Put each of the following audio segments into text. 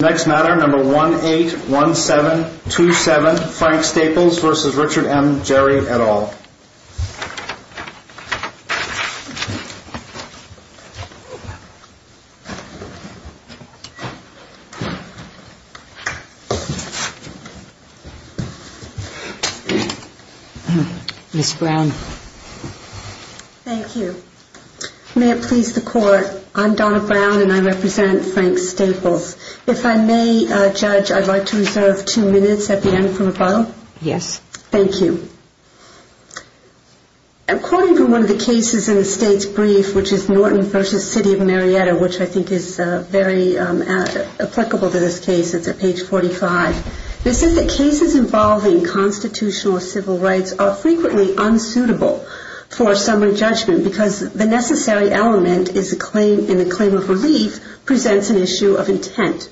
181727 Frank Staples v. Richard M. Gerry et al. Thank you. May it please the Court, I'm Donna Brown and I represent Frank Staples. If I may, Judge, I'd like to reserve two minutes at the end for rebuttal. Yes. Thank you. I'm quoting from one of the cases in the State's brief, which is Norton v. City of Marietta, which I think is very applicable to this case. It's at page 45. It says that cases involving constitutional or civil rights are frequently unsuitable for summary judgment because the necessary element in a claim of relief presents an issue of intent.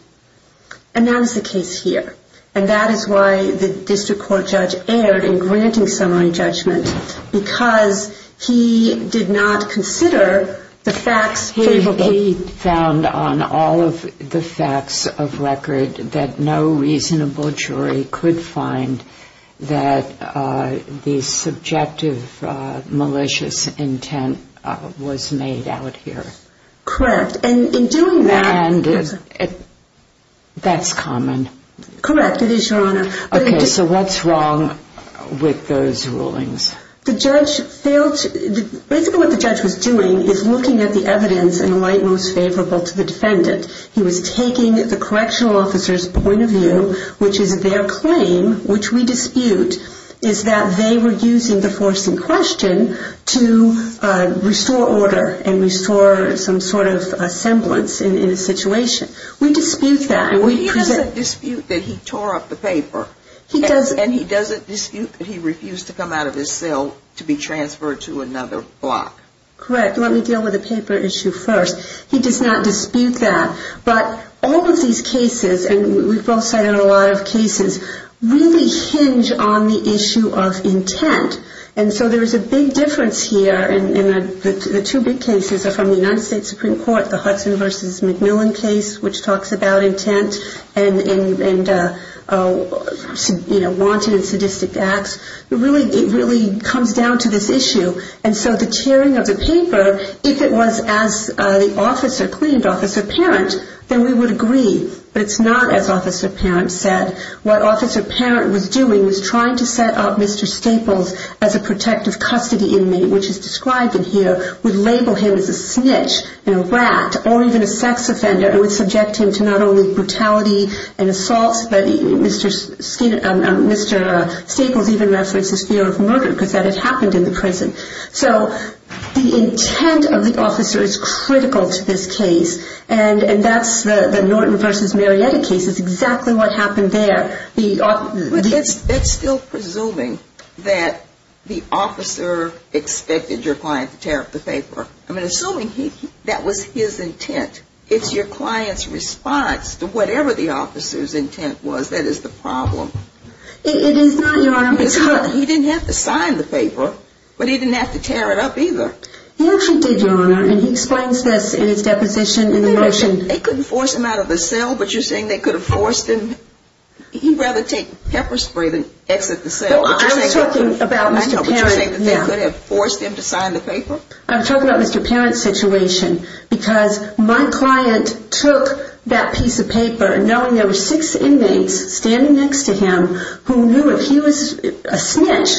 And that is the case here. And that is why the district court judge erred in granting summary judgment because he did not consider the facts favorable. He found on all of the facts of record that no reasonable jury could find that the subjective malicious intent was made out here. Correct. And in doing that... And that's common. Correct, it is, Your Honor. Okay, so what's wrong with those rulings? Basically what the judge was doing is looking at the evidence in a light most favorable to the defendant. He was taking the correctional officer's point of view, which is their claim, which we dispute, is that they were using the force in question to restore order and restore some sort of semblance in a situation. We dispute that. Well, he doesn't dispute that he tore up the paper. He doesn't. And he doesn't dispute that he refused to come out of his cell to be transferred to another block. Correct. Let me deal with the paper issue first. He does not dispute that. But all of these cases, and we've both cited a lot of cases, really hinge on the issue of intent. And so there is a big difference here. And the two big cases are from the United States Supreme Court, the Hudson v. McMillan case, which talks about intent and, you know, wanted and sadistic acts. It really comes down to this issue. And so the tearing of the paper, if it was as the officer claimed, Officer Parent, then we would agree. But it's not as Officer Parent said. What Officer Parent was doing was trying to set up Mr. Staples as a protective custody inmate, which is described in here, would label him as a snitch and a rat or even a sex offender and would subject him to not only brutality and assaults, but Mr. Staples even references fear of murder because that had happened in the prison. So the intent of the officer is critical to this case. And that's the Norton v. Marietta case. It's exactly what happened there. But that's still presuming that the officer expected your client to tear up the paper. I mean, assuming that was his intent, it's your client's response to whatever the officer's intent was. That is the problem. It is not, Your Honor. He didn't have to sign the paper, but he didn't have to tear it up either. He actually did, Your Honor, and he explains this in his deposition in the motion. They couldn't force him out of the cell, but you're saying they could have forced him? He'd rather take pepper spray than exit the cell. I was talking about Mr. Parent. Would you say that they could have forced him to sign the paper? I'm talking about Mr. Parent's situation because my client took that piece of paper, knowing there were six inmates standing next to him who knew if he was a snitch,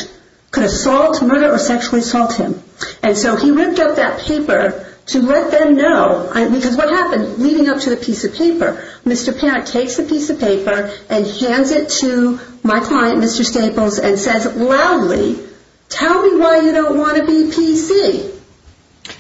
could assault, murder, or sexually assault him. And so he ripped up that paper to let them know, because what happened leading up to the piece of paper? Mr. Parent takes the piece of paper and hands it to my client, Mr. Staples, and says loudly, tell me why you don't want to be PC.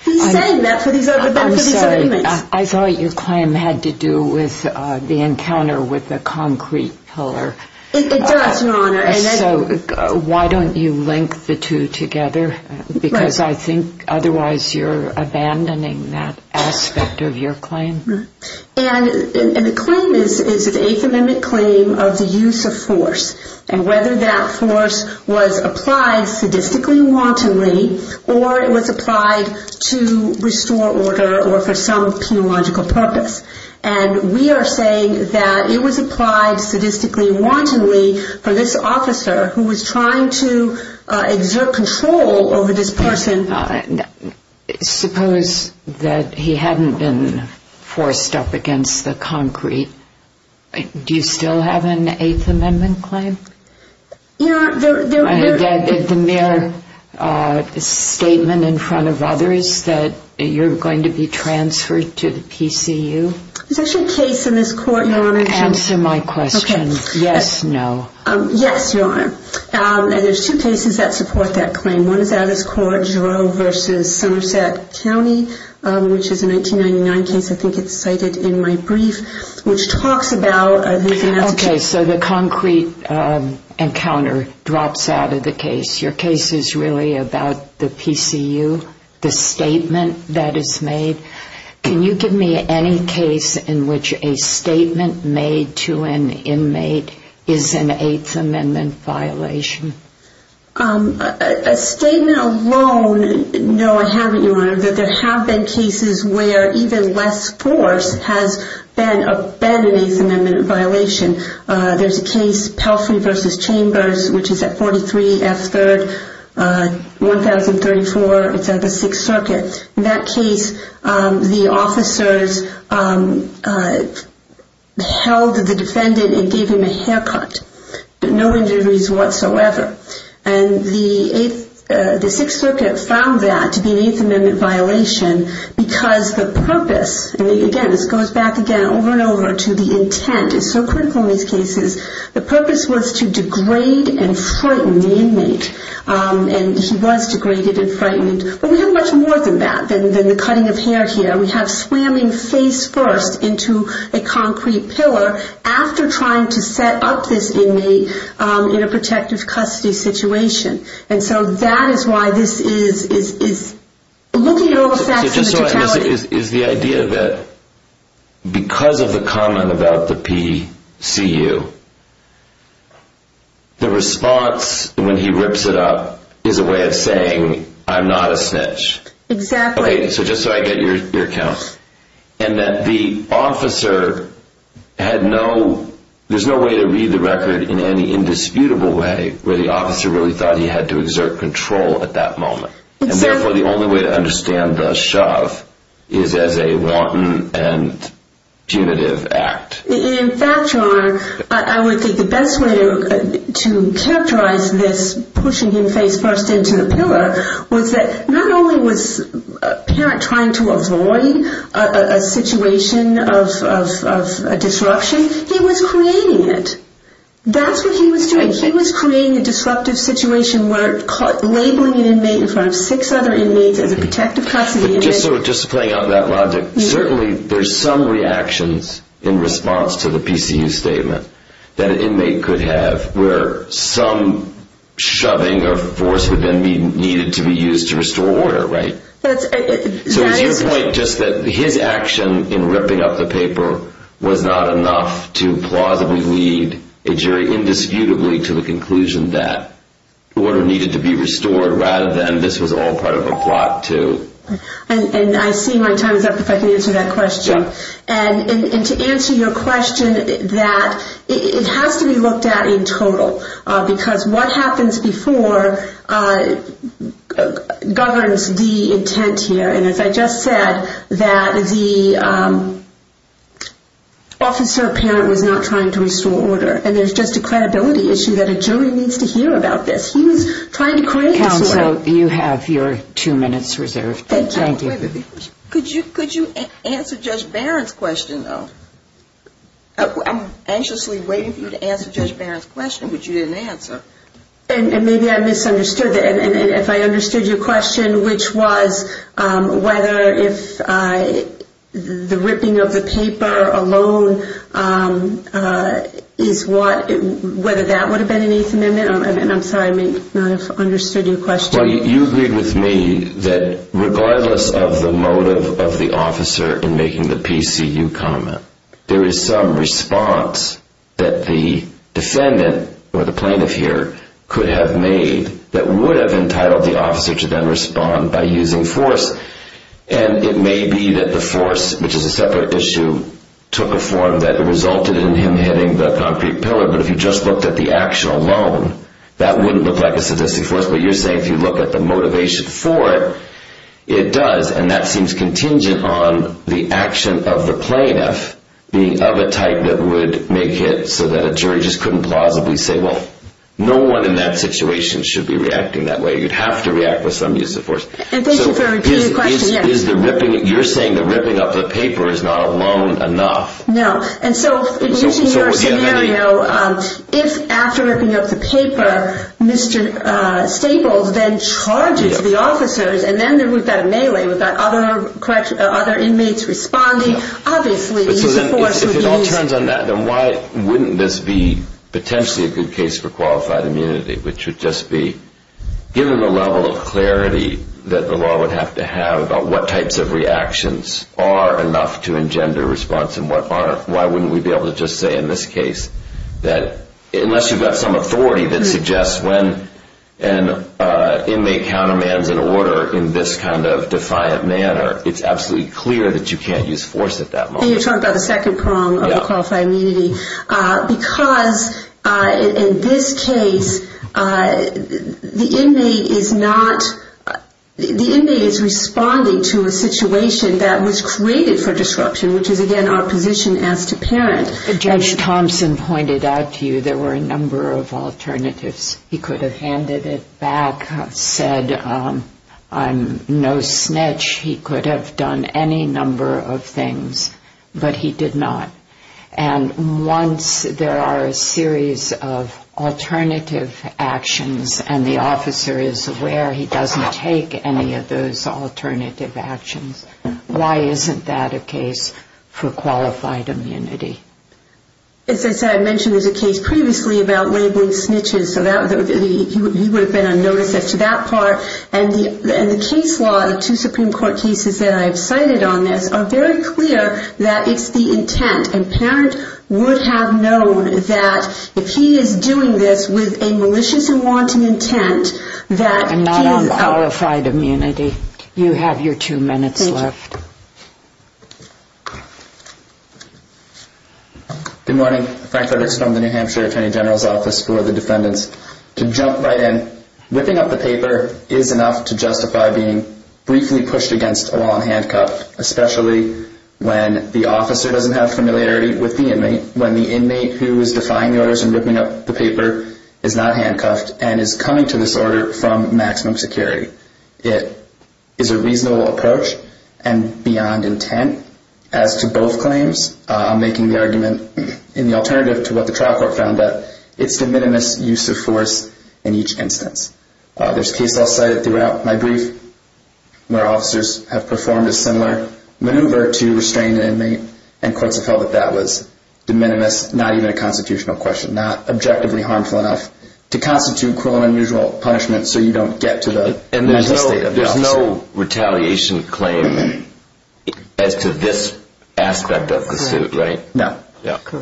He's saying that for these other inmates. I'm sorry, I thought your client had to do with the encounter with the concrete pillar. It does, Your Honor. So why don't you link the two together? Because I think otherwise you're abandoning that aspect of your claim. And the claim is an affidavit claim of the use of force, and whether that force was applied sadistically and wantonly, or it was applied to restore order or for some penological purpose. And we are saying that it was applied sadistically and wantonly for this officer who was trying to exert control over this person. Suppose that he hadn't been forced up against the concrete. Do you still have an Eighth Amendment claim? I have the mere statement in front of others that you're going to be transferred to the PCU. There's actually a case in this court, Your Honor. Answer my question. Yes, no. Yes, Your Honor. And there's two cases that support that claim. One is out of this court, Giroux v. Somerset County, which is a 1999 case. I think it's cited in my brief, which talks about the... Okay, so the concrete encounter drops out of the case. Your case is really about the PCU, the statement that is made. Can you give me any case in which a statement made to an inmate is an Eighth Amendment violation? A statement alone, no, I haven't, Your Honor, that there have been cases where even less force has been an Eighth Amendment violation. There's a case, Pelfrey v. Chambers, which is at 43 F. 3rd, 1034. It's at the Sixth Circuit. In that case, the officers held the defendant and gave him a haircut. No injuries whatsoever. And the Sixth Circuit found that to be an Eighth Amendment violation because the purpose, and again, this goes back again over and over to the intent, it's so critical in these cases, the purpose was to degrade and frighten the inmate. And he was degraded and frightened. But we have much more than that than the cutting of hair here. We have slamming face first into a concrete pillar after trying to set up this inmate in a protective custody situation. And so that is why this is looking at all the facts in the totality. Is the idea that because of the comment about the PCU, the response when he rips it up is a way of saying, I'm not a snitch? Exactly. Okay, so just so I get your account. And that the officer had no, there's no way to read the record in any indisputable way where the officer really thought he had to exert control at that moment. And therefore the only way to understand the shove is as a wanton and punitive act. In fact, your Honor, I would think the best way to characterize this pushing him face first into the pillar was that not only was the parent trying to avoid a situation of disruption, he was creating it. That's what he was doing. He was creating a disruptive situation where labeling an inmate in front of six other inmates as a protective custody. Just playing out that logic. Certainly there's some reactions in response to the PCU statement that an inmate could have where some shoving or force would then be needed to be used to restore order, right? So is your point just that his action in ripping up the paper was not enough to plausibly lead a jury indisputably to the conclusion that order needed to be restored rather than this was all part of a plot too? And I see my time is up if I can answer that question. And to answer your question, that it has to be looked at in total. Because what happens before governs the intent here. And as I just said, that the officer parent was not trying to restore order. And there's just a credibility issue that a jury needs to hear about this. He was trying to create disorder. Counsel, you have your two minutes reserved. Thank you. Could you answer Judge Barron's question though? I'm anxiously waiting for you to answer Judge Barron's question. Which you didn't answer. And maybe I misunderstood that. And if I understood your question, which was whether if the ripping of the paper alone is what, whether that would have been an Eighth Amendment. And I'm sorry, I may not have understood your question. Well, you agreed with me that regardless of the motive of the officer in making the PCU comment, there is some response that the defendant, or the plaintiff here, could have made that would have entitled the officer to then respond by using force. And it may be that the force, which is a separate issue, took a form that resulted in him hitting the concrete pillar. But if you just looked at the action alone, that wouldn't look like a sadistic force. But you're saying if you look at the motivation for it, it does. And that seems contingent on the action of the plaintiff, being of a type that would make it so that a jury just couldn't plausibly say, well, no one in that situation should be reacting that way. You'd have to react with some use of force. And thank you for repeating the question. You're saying that ripping up the paper is not alone enough. No. And so, using your scenario, if after ripping up the paper, Mr. Staples then charges the officers, and then we've got a melee, we've got other inmates responding, obviously the use of force would be easier. If it all turns on that, then why wouldn't this be potentially a good case for qualified immunity, which would just be given the level of clarity that the law would have to have about what types of reactions are enough to engender response and what aren't, why wouldn't we be able to just say in this case that unless you've got some authority that suggests when an inmate countermands an order in this kind of defiant manner, it's absolutely clear that you can't use force at that moment. And you're talking about the second prong of the qualified immunity. Because in this case, the inmate is not, the inmate is responding to a situation that was created for disruption, which is, again, our position as to parent. Judge Thompson pointed out to you there were a number of alternatives. He could have handed it back, said I'm no snitch. He could have done any number of things, but he did not. And once there are a series of alternative actions, and the officer is aware he doesn't take any of those alternative actions, why isn't that a case for qualified immunity? As I said, I mentioned there's a case previously about labeling snitches, so he would have been unnoticed as to that part. And the case law, the two Supreme Court cases that I have cited on this, are very clear that it's the intent. And parent would have known that if he is doing this with a malicious and wanting intent, I'm not on qualified immunity. You have your two minutes left. Thank you. Good morning. Frank Leverts from the New Hampshire Attorney General's Office for the Defendants. To jump right in, whipping up the paper is enough to justify being briefly pushed against a wall and handcuffed, especially when the officer doesn't have familiarity with the inmate, when the inmate who is defying orders and whipping up the paper is not handcuffed and is coming to this order from maximum security. It is a reasonable approach and beyond intent as to both claims. I'm making the argument in the alternative to what the trial court found out. It's de minimis use of force in each instance. There's a case I'll cite throughout my brief where officers have performed a similar maneuver to restrain an inmate and courts have held that that was de minimis, not even a constitutional question, not objectively harmful enough to constitute cruel and unusual punishment so you don't get to the mental state of the officer. There's no retaliation claim as to this aspect of the suit, right? No.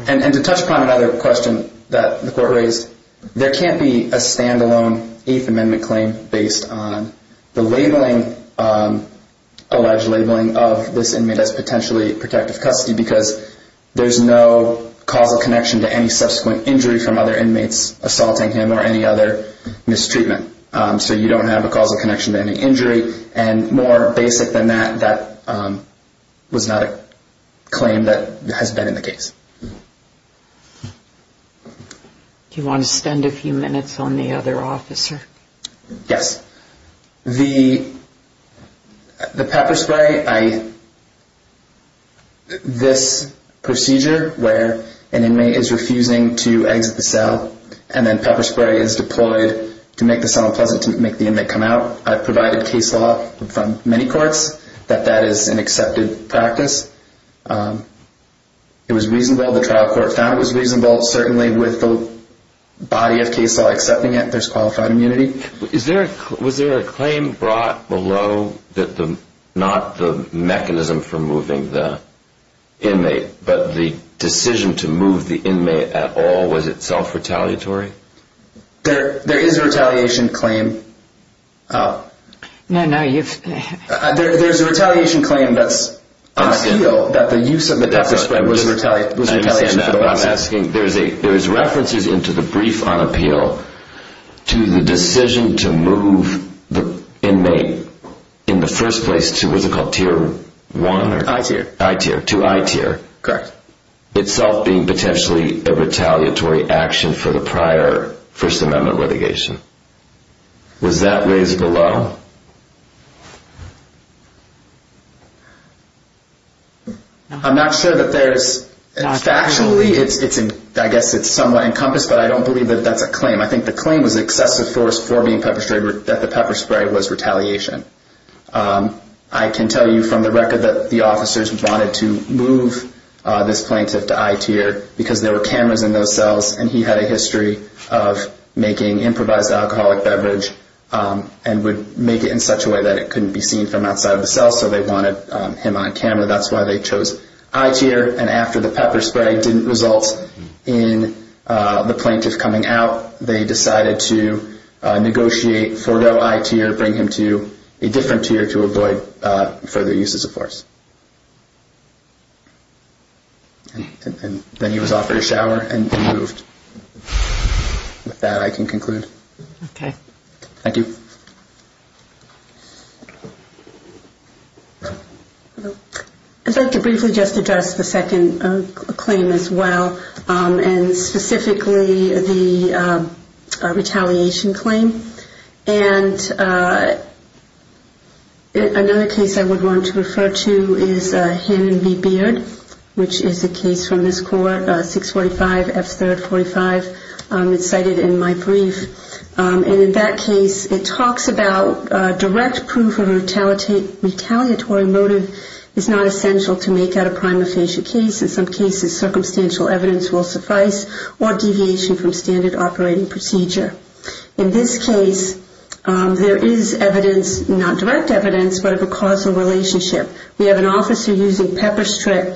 And to touch upon another question that the court raised, there can't be a stand-alone Eighth Amendment claim based on the labeling, alleged labeling of this inmate as potentially protective custody because there's no causal connection to any subsequent injury from other inmates assaulting him or any other mistreatment. So you don't have a causal connection to any injury. And more basic than that, that was not a claim that has been in the case. Do you want to spend a few minutes on the other officer? Yes. The pepper spray, this procedure where an inmate is refusing to exit the cell and then pepper spray is deployed to make the cell unpleasant, to make the inmate come out, I've provided case law from many courts that that is an accepted practice. It was reasonable. The trial court found it was reasonable. Certainly with the body of case law accepting it, there's qualified immunity. Was there a claim brought below that not the mechanism for moving the inmate but the decision to move the inmate at all, was it self-retaliatory? There is a retaliation claim. There's a retaliation claim that's on appeal that the use of the pepper spray was retaliation. There's references into the brief on appeal to the decision to move the inmate in the first place to what's it called, tier one? I-tier. I-tier, to I-tier. Correct. Itself being potentially a retaliatory action for the prior First Amendment litigation. Was that raised below? I'm not sure that there's, factually, I guess it's somewhat encompassed, but I don't believe that that's a claim. I think the claim was excessive force for being pepper sprayed, that the pepper spray was retaliation. I can tell you from the record that the officers wanted to move this plaintiff to I-tier because there were cameras in those cells and he had a history of making improvised alcoholic beverage and would make it in such a way that it couldn't be seen from outside of the cell, so they wanted him on camera. That's why they chose I-tier. And after the pepper spray didn't result in the plaintiff coming out, they decided to negotiate Fordeaux I-tier, bring him to a different tier to avoid further uses of force. And then he was offered a shower and moved. With that, I can conclude. Okay. Thank you. I'd like to briefly just address the second claim as well, and specifically the retaliation claim. And another case I would want to refer to is Hammond v. Beard, which is a case from this court, 645 F. 3rd 45. It's cited in my brief. And in that case, it talks about direct proof of a retaliatory motive is not essential to make out a prima facie case. In some cases, circumstantial evidence will suffice or deviation from standard operating procedure. In this case, there is evidence, not direct evidence, but of a causal relationship. We have an officer using pepper spray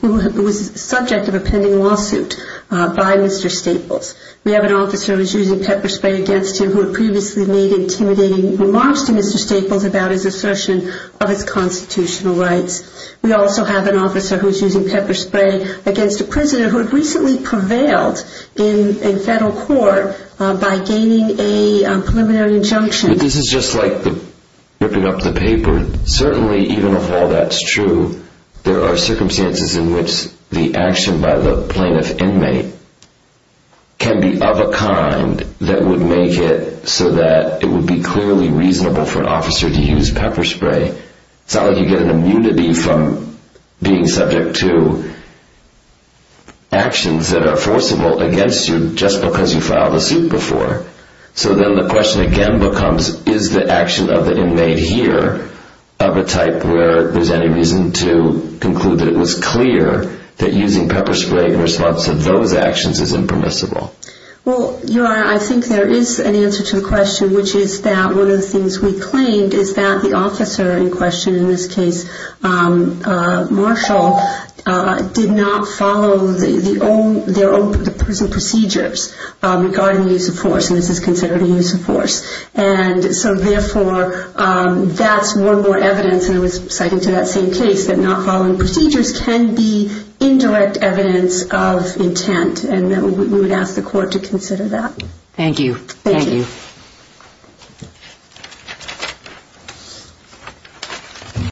who was subject of a pending lawsuit by Mr. Staples. We have an officer who's using pepper spray against him who had previously made intimidating remarks to Mr. Staples about his assertion of his constitutional rights. We also have an officer who's using pepper spray against a prisoner who had recently prevailed in federal court by gaining a preliminary injunction. This is just like ripping up the paper. Certainly, even if all that's true, there are circumstances in which the action by the plaintiff inmate can be of a kind that would make it so that it would be clearly reasonable for an officer to use pepper spray. It's not like you get an immunity from being subject to actions that are forcible against you just because you filed a suit before. So then the question again becomes, is the action of the inmate here of a type where there's any reason to conclude that it was clear that using pepper spray in response to those actions is impermissible? Well, Your Honor, I think there is an answer to the question, which is that one of the things we claimed is that the officer in question, in this case Marshall, did not follow their own prison procedures regarding the use of force, and this is considered a use of force. And so therefore, that's one more evidence, and I was citing to that same case, that not following procedures can be indirect evidence of intent, and we would ask the court to consider that. Thank you. Thank you. Thank you.